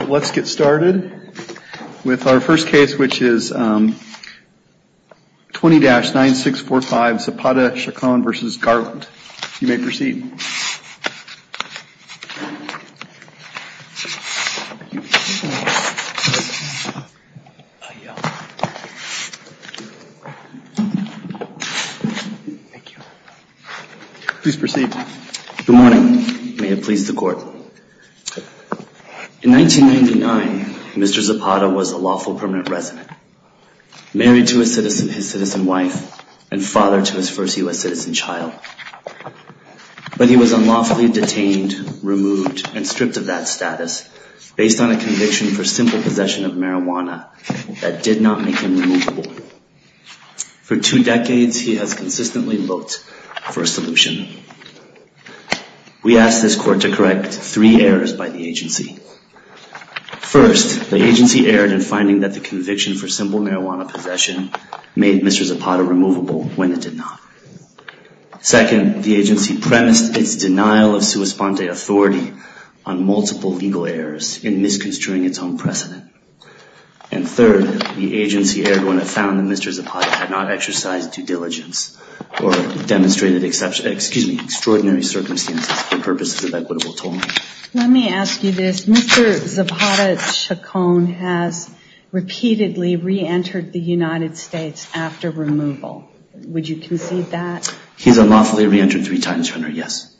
Let's get started with our first case, which is 20-9645 Zapata-Chacon v. Garland. You may proceed. Please proceed. Good morning. May it please the Court. In 1999, Mr. Zapata was a lawful permanent resident, married to his citizen wife and father to his first U.S. citizen child. But he was unlawfully detained, removed, and stripped of that status based on a conviction for simple possession of marijuana that did not make him removable. For two decades, he has consistently looked for a solution. We asked this Court to correct three errors by the agency. First, the agency erred in finding that the conviction for simple marijuana possession made Mr. Zapata removable when it did not. Second, the agency premised its denial of sua sponte authority on multiple legal errors in misconstruing its own precedent. And third, the agency erred when it found that Mr. Zapata had not exercised due diligence or demonstrated extraordinary circumstances for purposes of equitable tolling. Let me ask you this. Mr. Zapata-Chacon has repeatedly re-entered the United States after removal. Would you concede that? He has unlawfully re-entered three times, Your Honor, yes.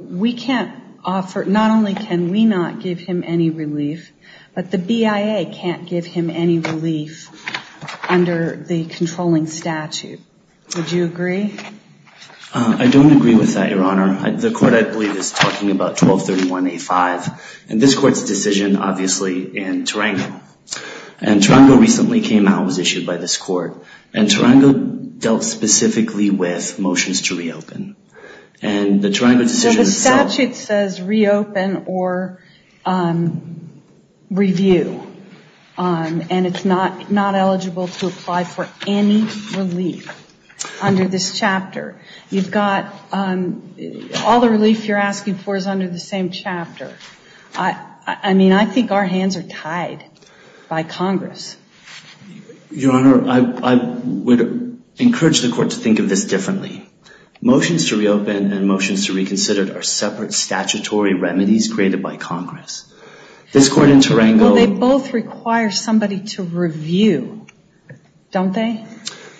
We can't offer, not only can we not give him any relief, but the BIA can't give him any relief under the statute. Would you agree? I don't agree with that, Your Honor. The Court, I believe, is talking about 1231A5. And this Court's decision, obviously, in Tarango. And Tarango recently came out and was issued by this Court. And Tarango dealt specifically with motions to reopen. And the Tarango decision itself- As such, it says reopen or review. And it's not eligible to apply for any relief under this chapter. You've got all the relief you're asking for is under the same chapter. I mean, I think our hands are tied by Congress. Your Honor, I would encourage the Court to think of this differently. Motions to reopen and motions to reconsider are separate statutory remedies created by Congress. This Court in Tarango- Well, they both require somebody to review, don't they?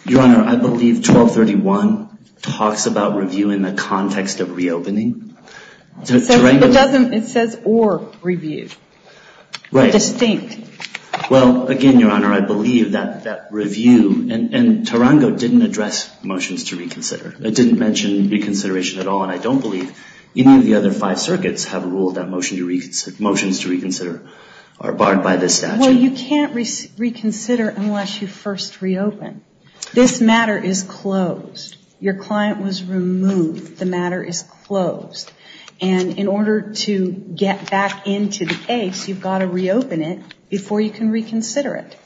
Your Honor, I believe 1231 talks about reviewing in the context of reopening. It says or review. Right. Distinct. Well, again, Your Honor, I believe that that review in Tarango didn't address motions to reconsider. It didn't mention reconsideration at all. And I don't believe any of the other five circuits have a rule that motions to reconsider are barred by this statute. Well, you can't reconsider unless you first reopen. This matter is closed. Your client was removed. The matter is closed. And in order to get back into the case, you've got to reopen it before you can reconsider it.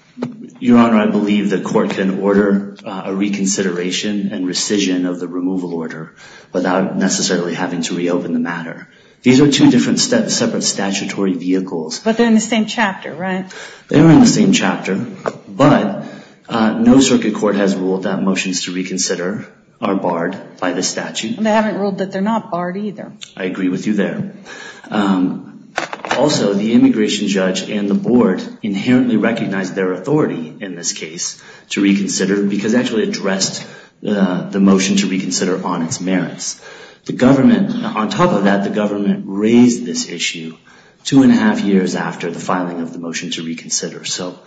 Your Honor, I believe the Court can order a reconsideration and rescission of the removal order without necessarily having to reopen the matter. These are two different separate statutory vehicles. But they're in the same chapter, right? They are in the same chapter, but no circuit court has ruled that motions to reconsider are barred by the statute. They haven't ruled that they're not barred either. I agree with you there. Also, the immigration judge and the board inherently recognized their authority in this case to reconsider because it actually addressed the motion to reconsider on its merits. The government, on top of that, the government raised this issue two and a half years after the filing of the motion to reconsider. So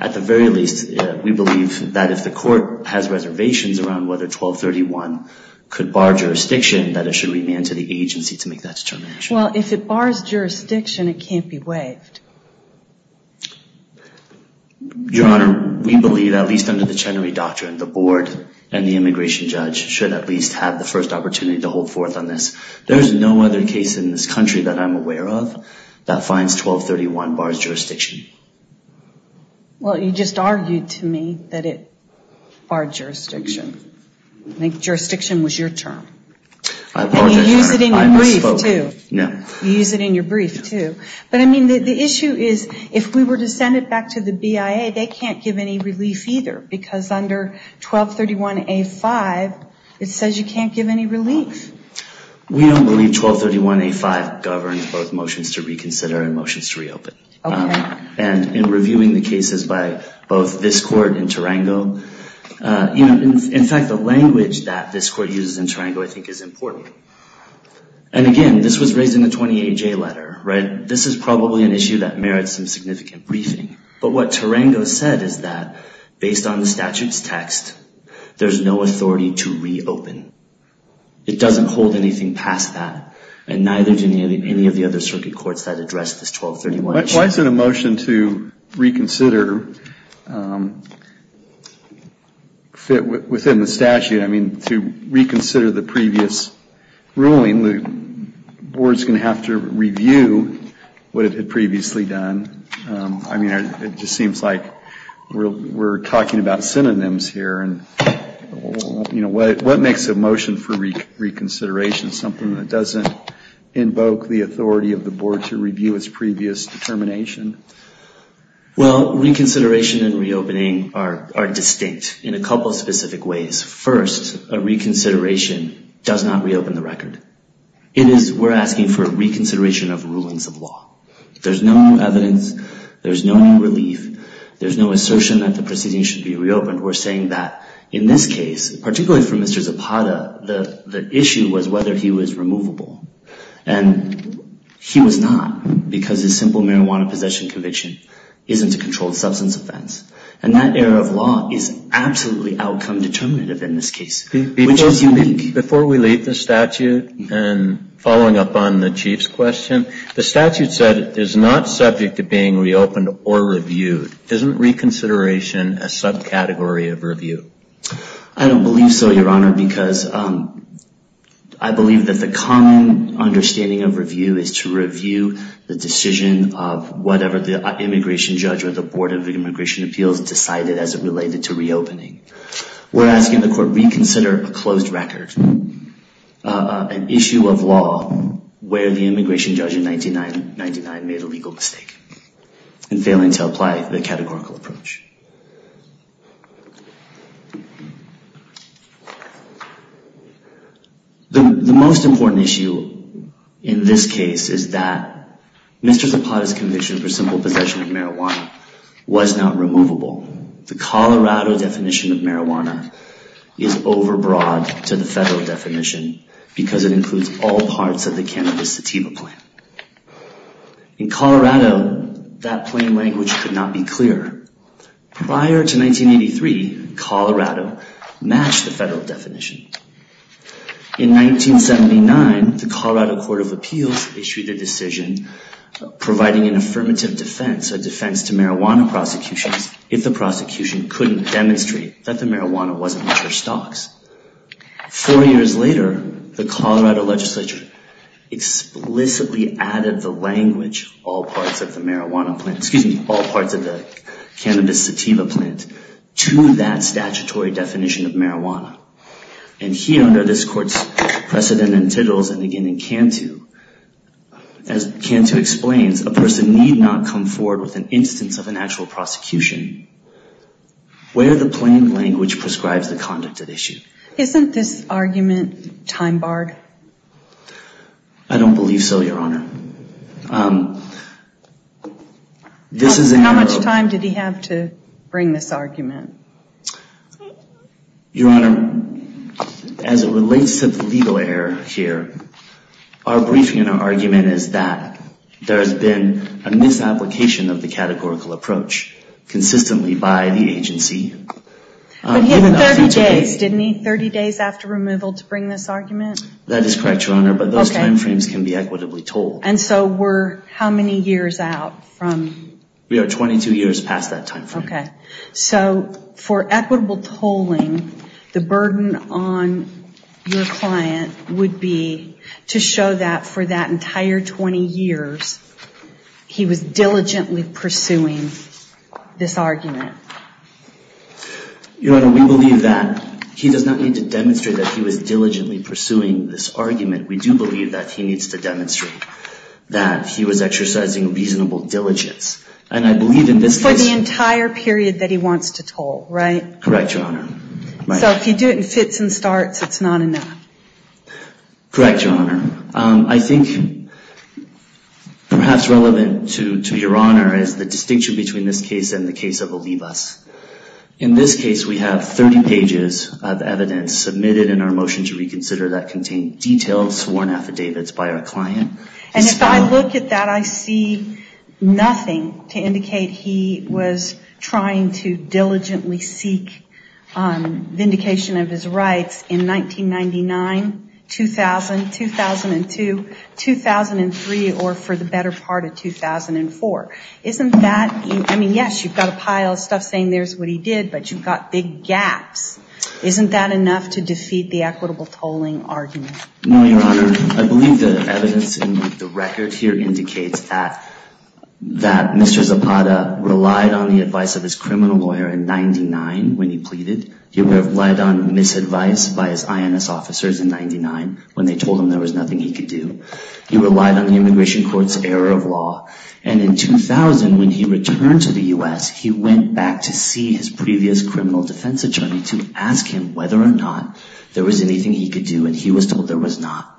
at the very least, we believe that if the Court has reservations around whether 1231 could bar jurisdiction, that it should remand to the agency to make that determination. Well, if it bars jurisdiction, it can't be waived. Your Honor, we believe, at least under the Chenery Doctrine, the board and the immigration judge should at least have the first opportunity to hold forth on this. There's no other case in this country that I'm aware of that finds 1231 bars jurisdiction. Well, you just argued to me that it barred jurisdiction. Jurisdiction was your term. I apologize, Your Honor. And you used it in your brief, too. No. You used it in your brief, too. But, I mean, the issue is if we were to send it back to the BIA, they can't give any relief either because under 1231A5, it says you can't give any relief. We don't believe 1231A5 governs both motions to reconsider and motions to reopen. And in reviewing the cases by both this Court and Tarango, in fact, the language that this Court uses in Tarango, I think, is important. And, again, this was raised in the 28-J letter, right? This is probably an issue that merits some significant briefing. But what Tarango said is that based on the statute's text, there's no authority to reopen. It doesn't hold anything past that and neither do any of the other circuit courts that address this 1231 issue. Why is it a motion to reconsider within the statute? I mean, to reconsider the previous ruling, the Board's going to have to review what it had previously done. I mean, it just seems like we're talking about synonyms here. And, you know, what makes a motion for reconsideration something that doesn't invoke the authority of the Board to review its previous determination? Well, reconsideration and reopening are distinct in a couple of specific ways. First, a reconsideration does not reopen the record. We're asking for a reconsideration of rulings of law. There's no new evidence. There's no new relief. There's no assertion that the proceedings should be reopened. We're saying that in this case, particularly for Mr. Zapata, the issue was whether he was removable. And he was not because his simple marijuana possession conviction isn't a controlled substance offense. And that error of law is absolutely outcome determinative in this case, which is unique. Before we leave the statute and following up on the Chief's question, the statute said it is not subject to being reopened or reviewed. Isn't reconsideration a subcategory of review? I don't believe so, Your Honor, because I believe that the common understanding of review is to review the decision of whatever the immigration judge or the Board of Immigration Appeals decided as it related to reopening. We're asking the court reconsider a closed record, an issue of law where the immigration judge in 1999 made a legal mistake in failing to apply the categorical approach. The most important issue in this case is that Mr. Zapata's conviction for simple possession of marijuana was not removable. The Colorado definition of marijuana is overbroad to the federal definition because it includes all parts of the cannabis sativa plan. In Colorado, that plain language could not be clearer. Prior to 1983, Colorado matched the federal definition. In 1979, the Colorado Court of Appeals issued a decision providing an affirmative defense, a defense to marijuana prosecutions, if the prosecution couldn't demonstrate that the marijuana wasn't in their stocks. Four years later, the Colorado legislature explicitly added the language, all parts of the marijuana plan, excuse me, all parts of the cannabis sativa plan to that statutory definition of marijuana. And here under this court's precedent and titles, and again in Cantu, as Cantu explains, a person need not come forward with an instance of an actual prosecution where the plain language prescribes the conduct at issue. Isn't this argument time-barred? I don't believe so, Your Honor. This is a... How much time did he have to bring this argument? Your Honor, as it relates to the legal error here, our briefing and our argument is that there has been a misapplication of the categorical approach consistently by the agency. But he had 30 days, didn't he, 30 days after removal to bring this argument? That is correct, Your Honor, but those time frames can be equitably told. And so we're how many years out from... We are 22 years past that time frame. So for equitable tolling, the burden on your client would be to show that for that entire 20 years, he was diligently pursuing this argument. Your Honor, we believe that he does not need to demonstrate that he was diligently pursuing this argument. We do believe that he needs to demonstrate that he was exercising reasonable diligence. And I believe in this case... For the entire period that he wants to toll, right? Correct, Your Honor. So if he did it in fits and starts, it's not enough. Correct, Your Honor. I think perhaps relevant to Your Honor is the distinction between this case and the case of Olivas. In this case, we have 30 pages of evidence submitted in our motion to reconsider that contained detailed sworn affidavits by our client. And if I look at that, I see nothing to indicate he was trying to diligently seek vindication of his rights in 1999, 2000, 2002, 2003, or for the better part of 2004. Isn't that... I mean, yes, you've got a pile of stuff saying there's what he did, but you've got big gaps. Isn't that enough to defeat the equitable tolling argument? No, Your Honor. I believe the evidence in the record here indicates that Mr. Zapata relied on the advice of his criminal lawyer in 99 when he pleaded. He relied on misadvice by his INS officers in 99 when they told him there was nothing he could do. He relied on the immigration court's error of law. And in 2000, when he returned to the US, he went back to see his previous criminal defense attorney to ask him whether or not there was anything he could do, and he was told there was not.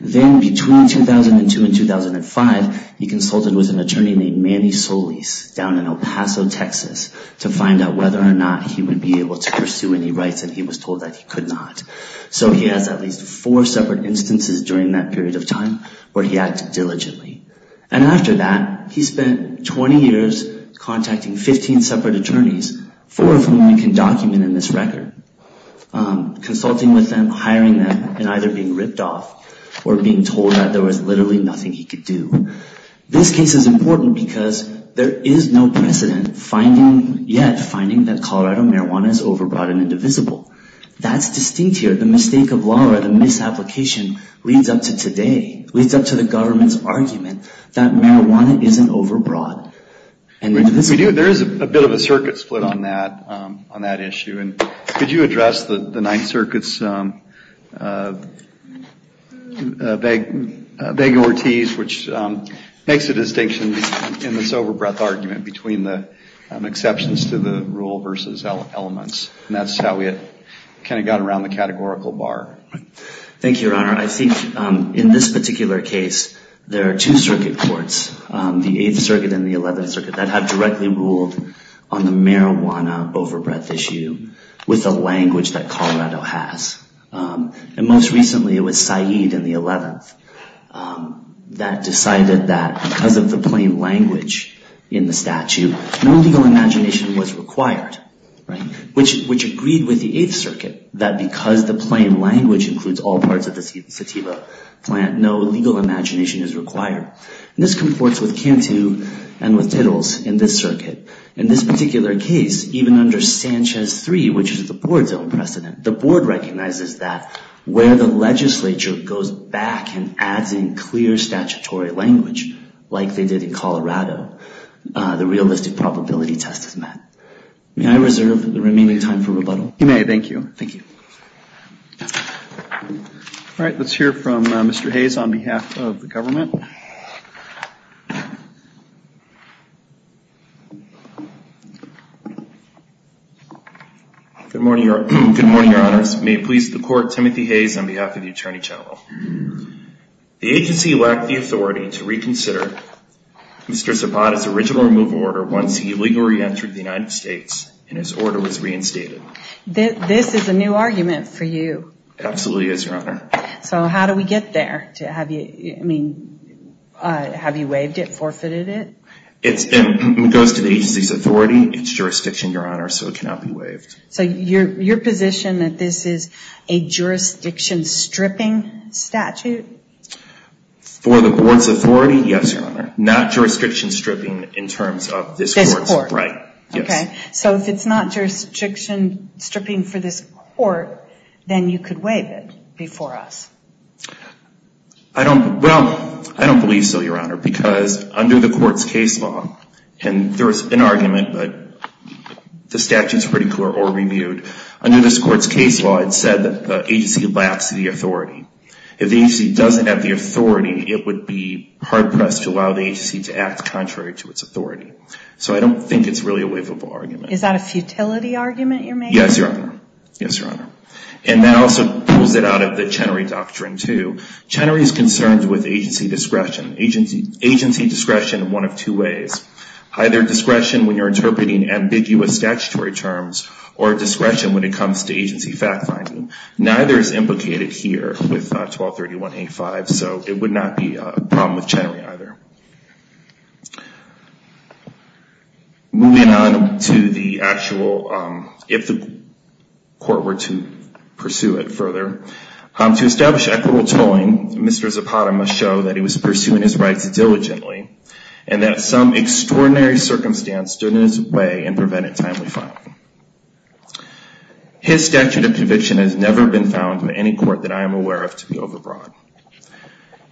Then between 2002 and 2005, he consulted with an attorney named Manny Solis down in El Paso, Texas, to find out whether or not he would be able to pursue any rights, and he was told that he could not. So he has at least four separate instances during that period of time where he acted diligently. And after that, he spent 20 years contacting 15 separate attorneys, four of whom you can document in this record, consulting with them, hiring them, and either being ripped off or being told that there was literally nothing he could do. This case is important because there is no precedent finding yet, finding that Colorado marijuana is overbought and indivisible. That's distinct here. The mistake of law or the misapplication leads up to today, leads up to the government's argument that marijuana isn't overbought and indivisible. There is a bit of a circuit split on that, on that issue, and could you address the Ninth Circuit makes a distinction in this overbreath argument between the exceptions to the rule versus elements. And that's how we kind of got around the categorical bar. Thank you, Your Honor. I think in this particular case, there are two circuit courts, the Eighth Circuit and the Eleventh Circuit, that have directly ruled on the marijuana overbreath issue with a language that Colorado has. And most recently, it was Said in the Eleventh that decided that because of the plain language in the statute, no legal imagination was required, which agreed with the Eighth Circuit that because the plain language includes all parts of the sativa plant, no legal imagination is required. And this comports with Cantu and with Tittles in this circuit. In this particular case, even under Sanchez 3, which is the board's own precedent, the only thing it says is that where the legislature goes back and adds in clear statutory language, like they did in Colorado, the realistic probability test is met. May I reserve the remaining time for rebuttal? You may. Thank you. Thank you. All right. Let's hear from Mr. Hayes on behalf of the government. Good morning, Your Honor. Your Honor, may it please the Court, Timothy Hayes on behalf of the Attorney General. The agency lacked the authority to reconsider Mr. Zapata's original removal order once he illegally re-entered the United States and his order was reinstated. This is a new argument for you. It absolutely is, Your Honor. So how do we get there? Have you waived it, forfeited it? It goes to the agency's authority, its jurisdiction, Your Honor, so it cannot be waived. So your position that this is a jurisdiction-stripping statute? For the board's authority, yes, Your Honor. Not jurisdiction-stripping in terms of this Court's right. This Court. Yes. Okay. So if it's not jurisdiction-stripping for this Court, then you could waive it before us. I don't, well, I don't believe so, Your Honor, because under the Court's case law, and there were many cases that were reviewed, under this Court's case law, it said that the agency lacks the authority. If the agency doesn't have the authority, it would be hard-pressed to allow the agency to act contrary to its authority. So I don't think it's really a waivable argument. Is that a futility argument you're making? Yes, Your Honor. Yes, Your Honor. And that also pulls it out of the Chenery Doctrine, too. Chenery is concerned with agency discretion. Agency discretion in one of two ways. Either discretion when you're interpreting ambiguous statutory terms, or discretion when it comes to agency fact-finding. Neither is implicated here with 1231A5, so it would not be a problem with Chenery either. Moving on to the actual, if the Court were to pursue it further, to establish equitable tolling, Mr. Zapata must show that he was pursuing his rights diligently, and that some extraordinary circumstance stood in his way and prevented timely filing. His statute of conviction has never been found in any court that I am aware of to be overbroad.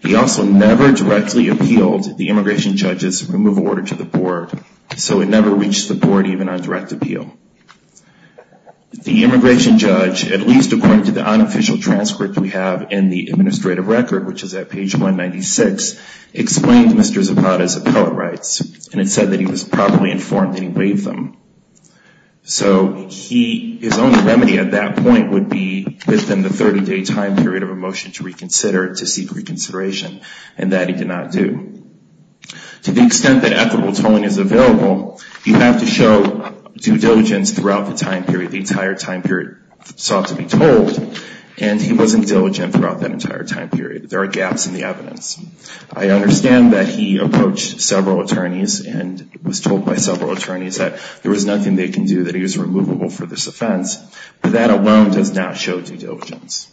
He also never directly appealed the immigration judge's removal order to the Board, so it never reached the Board even on direct appeal. The immigration judge, at least according to the unofficial transcript we have in the and it said that he was properly informed that he waived them. So his only remedy at that point would be within the 30-day time period of a motion to reconsider, to seek reconsideration, and that he did not do. To the extent that equitable tolling is available, you have to show due diligence throughout the time period. The entire time period sought to be tolled, and he wasn't diligent throughout that entire time period. There are gaps in the evidence. I understand that he approached several attorneys and was told by several attorneys that there was nothing they can do, that he was removable for this offense, but that alone does not show due diligence.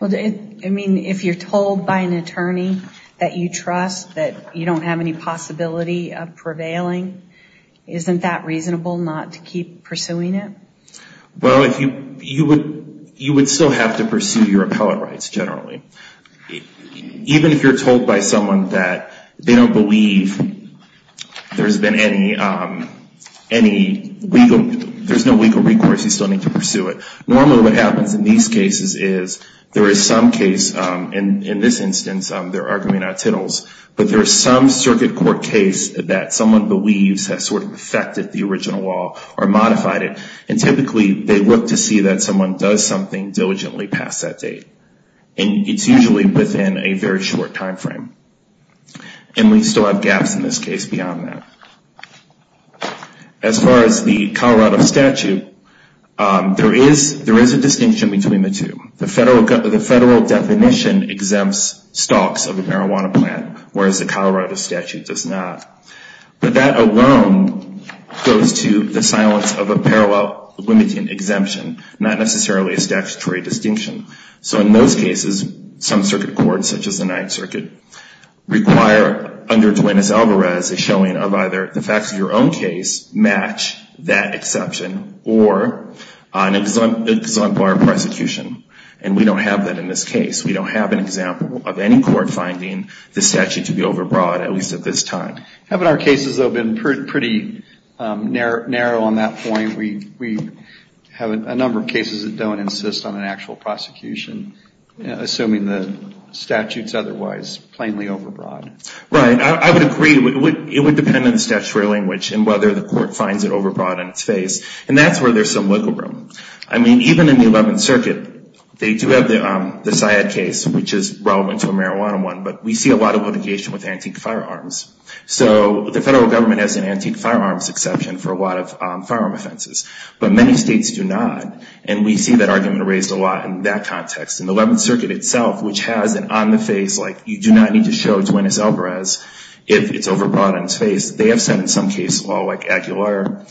Well, I mean, if you're told by an attorney that you trust, that you don't have any possibility of prevailing, isn't that reasonable not to keep pursuing it? Well, you would still have to pursue your appellate rights generally. Even if you're told by someone that they don't believe there's been any legal, there's no legal recourse, you still need to pursue it. Normally what happens in these cases is there is some case, and in this instance they're arguing out of titles, but there's some circuit court case that someone believes has sort of affected the original law or modified it, and typically they look to see that someone does something diligently past that date. And it's usually within a very short time frame. And we still have gaps in this case beyond that. As far as the Colorado statute, there is a distinction between the two. The federal definition exempts stalks of a marijuana plant, whereas the Colorado statute does not. But that alone goes to the silence of a parallel limiting exemption, not necessarily a statutory distinction. So in those cases, some circuit courts, such as the Ninth Circuit, require under Duenas-Alvarez a showing of either the facts of your own case match that exception, or an exemplar prosecution. And we don't have that in this case. We don't have an example of any court finding the statute to be overbroad, at least at this time. Haven't our cases, though, been pretty narrow on that point? We have a number of cases that don't insist on an actual prosecution, assuming the statute is otherwise plainly overbroad. Right. I would agree. It would depend on the statutory language and whether the court finds it overbroad in its face. And that's where there's some wiggle room. I mean, even in the Eleventh Circuit, they do have the Syed case, which is relevant to a marijuana one, but we see a lot of litigation with antique firearms. So the federal government has an antique firearms exception for a lot of firearm offenses, but many states do not. And we see that argument raised a lot in that context. In the Eleventh Circuit itself, which has an on-the-face, like, you do not need to show Duenas-Alvarez if it's overbroad on its face. They have said in some cases, like Aguilar,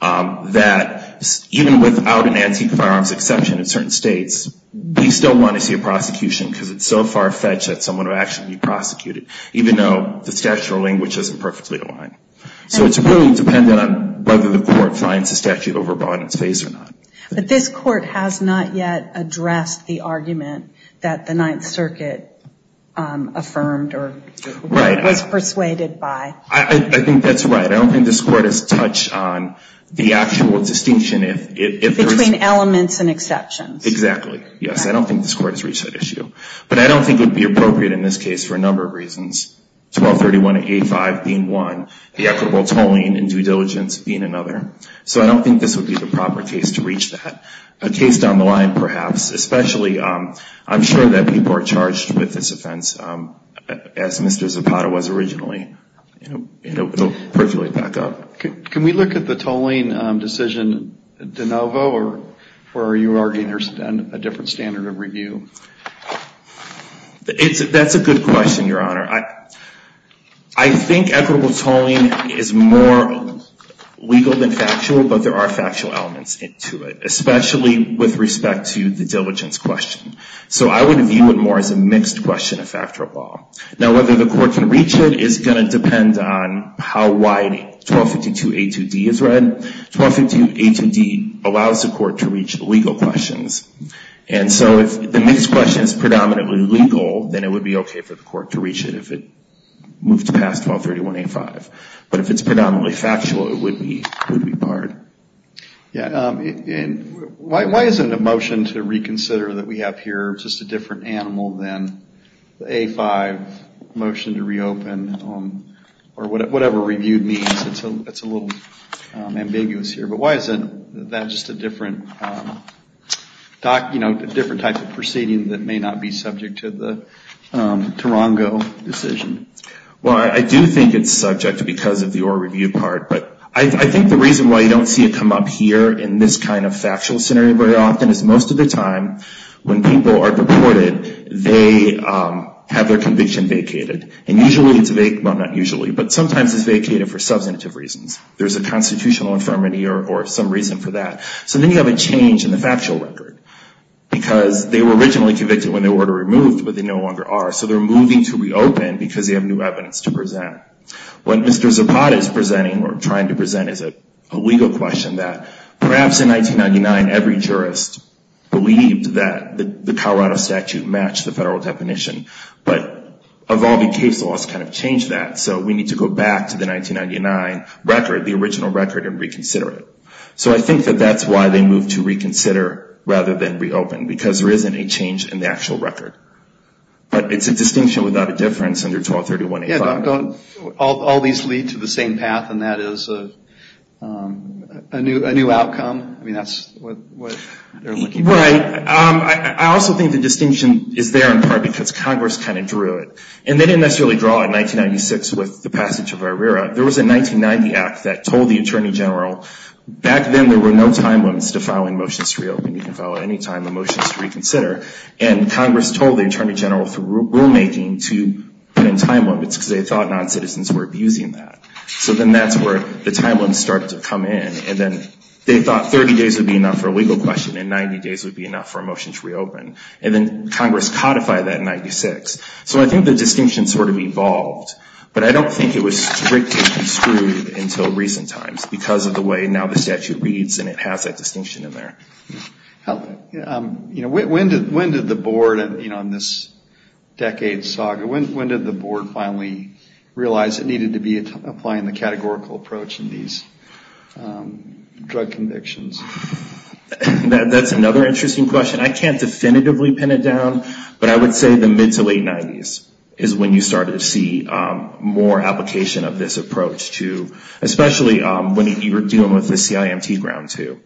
that even without an antique firearms exception in certain states, we still want to see a prosecution because it's so far-fetched that someone would actually be prosecuted. Even though the statutory language doesn't perfectly align. So it's really dependent on whether the court finds the statute overbroad in its face or not. But this Court has not yet addressed the argument that the Ninth Circuit affirmed or was persuaded by. Right. I think that's right. I don't think this Court has touched on the actual distinction if there's Between elements and exceptions. Exactly. Yes. I don't think this Court has reached that issue. But I don't think it would be appropriate in this case for a number of reasons. 1231A5 being one, the equitable tolling and due diligence being another. So I don't think this would be the proper case to reach that. A case down the line, perhaps. Especially, I'm sure that people are charged with this offense as Mr. Zapata was originally. It will percolate back up. Can we look at the tolling decision de novo or are you arguing a different standard of review? That's a good question, Your Honor. I think equitable tolling is more legal than factual. But there are factual elements to it. Especially with respect to the diligence question. So I would view it more as a mixed question of factor of law. Now whether the Court can reach it is going to depend on how wide 1252A2D is read. 1252A2D allows the Court to reach legal questions. And so if the mixed question is predominantly legal, then it would be okay for the Court to reach it if it moved past 1231A5. But if it's predominantly factual, it would be barred. Why isn't a motion to reconsider that we have here just a different animal than the A5 motion to reopen? Or whatever reviewed means. It's a little ambiguous here. But why isn't that just a different type of proceeding that may not be subject to the Tarongo decision? Well, I do think it's subject because of the oral review part. But I think the reason why you don't see it come up here in this kind of factual scenario very often is most of the time when people are purported, they have their conviction vacated. And usually it's vacated, well not usually, but sometimes it's vacated for substantive reasons. There's a constitutional infirmity or some reason for that. So then you have a change in the factual record. Because they were originally convicted when they were removed, but they no longer are. So they're moving to reopen because they have new evidence to present. What Mr. Zapata is presenting or trying to present is a legal question that perhaps in 1999 every jurist believed that the Colorado statute matched the federal definition. But evolving case laws kind of changed that. So we need to go back to the 1999 record, the original record, and reconsider it. So I think that that's why they moved to reconsider rather than reopen. Because there isn't a change in the actual record. But it's a distinction without a difference under 1231A5. Yeah, don't all these lead to the same path and that is a new outcome? I mean, that's what they're looking for. Right. I also think the distinction is there in part because Congress kind of drew it. And they didn't necessarily draw it in 1996 with the passage of IRERA. There was a 1990 act that told the Attorney General back then there were no time limits to filing motions to reopen. You can file at any time the motions to reconsider. And Congress told the Attorney General through rulemaking to put in time limits because they thought non-citizens were abusing that. So then that's where the time limits start to come in. And then they thought 30 days would be enough for a legal question and 90 days would be enough for a motion to reopen. And then Congress codified that in 96. So I think the distinction sort of evolved. But I don't think it was strictly construed until recent times because of the way now the statute reads and it has that distinction in there. When did the board, you know, in this decade saga, when did the board finally realize it needed to be applying the categorical approach in these drug convictions? That's another interesting question. I can't definitively pin it down. But I would say the mid to late 90s is when you started to see more application of this approach to especially when you were dealing with the CIMT ground too.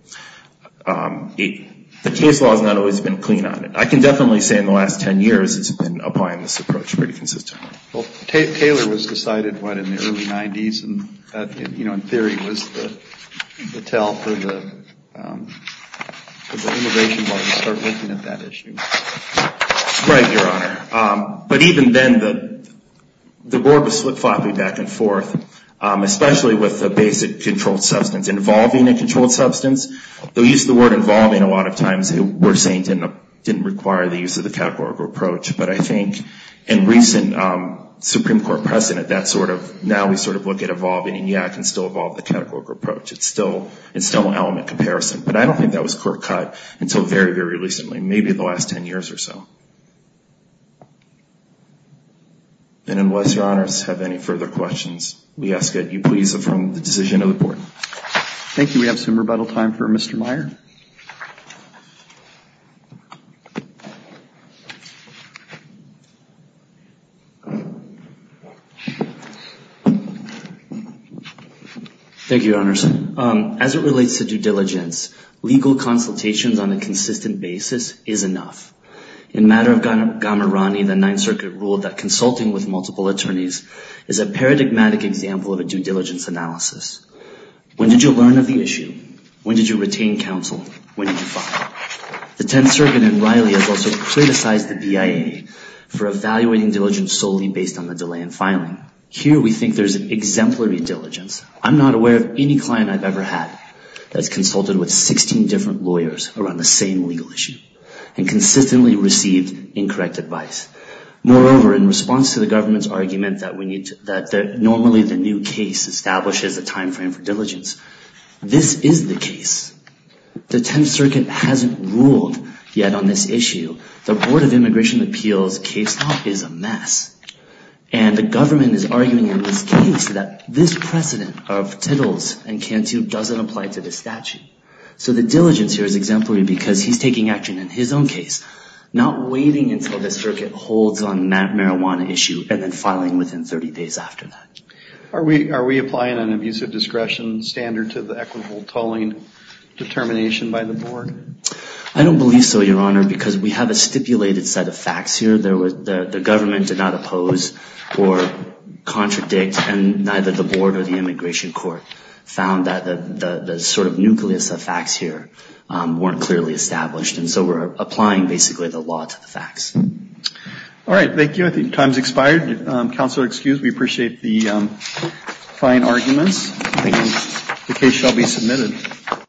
The case law has not always been clean on it. I can definitely say in the last 10 years it's been applying this approach pretty consistently. Taylor was decided what in the early 90s and, you know, in theory was the tell for the immigration board to start looking at that issue. Right, Your Honor. But even then the board was flip-flopping back and forth, especially with the basic controlled substance. Involving a controlled substance, the use of the word involving a lot of times we're saying didn't require the use of the categorical approach. But I think in recent Supreme Court precedent that sort of now we sort of look at involving and, yeah, it can still involve the categorical approach. It's still an element comparison. But I don't think that was court cut until very, very recently, maybe the last 10 years or so. And unless Your Honors have any further questions, we ask that you please affirm the decision of the board. Thank you. We have some rebuttal time for Mr. Meyer. Thank you, Your Honors. As it relates to due diligence, legal consultations on a consistent basis is enough. In matter of Gamarani, the Ninth Circuit ruled that consulting with multiple attorneys is a paradigmatic example of a due diligence analysis. When did you learn of the issue? When did you retain counsel? When did you file? The Tenth Circuit in Riley has also criticized the BIA for evaluating diligence solely based on the delay in filing. Here we think there's an exemplary diligence. I'm not aware of any client I've ever had that's consulted with 16 different lawyers around the same legal issue and consistently received incorrect advice. Moreover, in response to the government's argument that normally the new case establishes a timeframe for diligence, this is the case. The Tenth Circuit hasn't ruled yet on this issue. The Board of Immigration Appeals case law is a mess. And the government is arguing in this case that this precedent of Tittles and Cantu doesn't apply to this statute. So the diligence here is exemplary because he's taking action in his own case, not waiting until the circuit holds on that marijuana issue and then filing within 30 days after that. Are we applying an abusive discretion standard to the equitable tolling determination by the Board? I don't believe so, Your Honor, because we have a stipulated set of facts here. The government did not oppose or contradict, and neither the Board or the Immigration Court found that the sort of nucleus of facts here weren't clearly established. And so we're applying basically the law to the facts. All right. Thank you. I think time's expired. Counselor, excuse me. Appreciate the fine arguments. The case shall be submitted.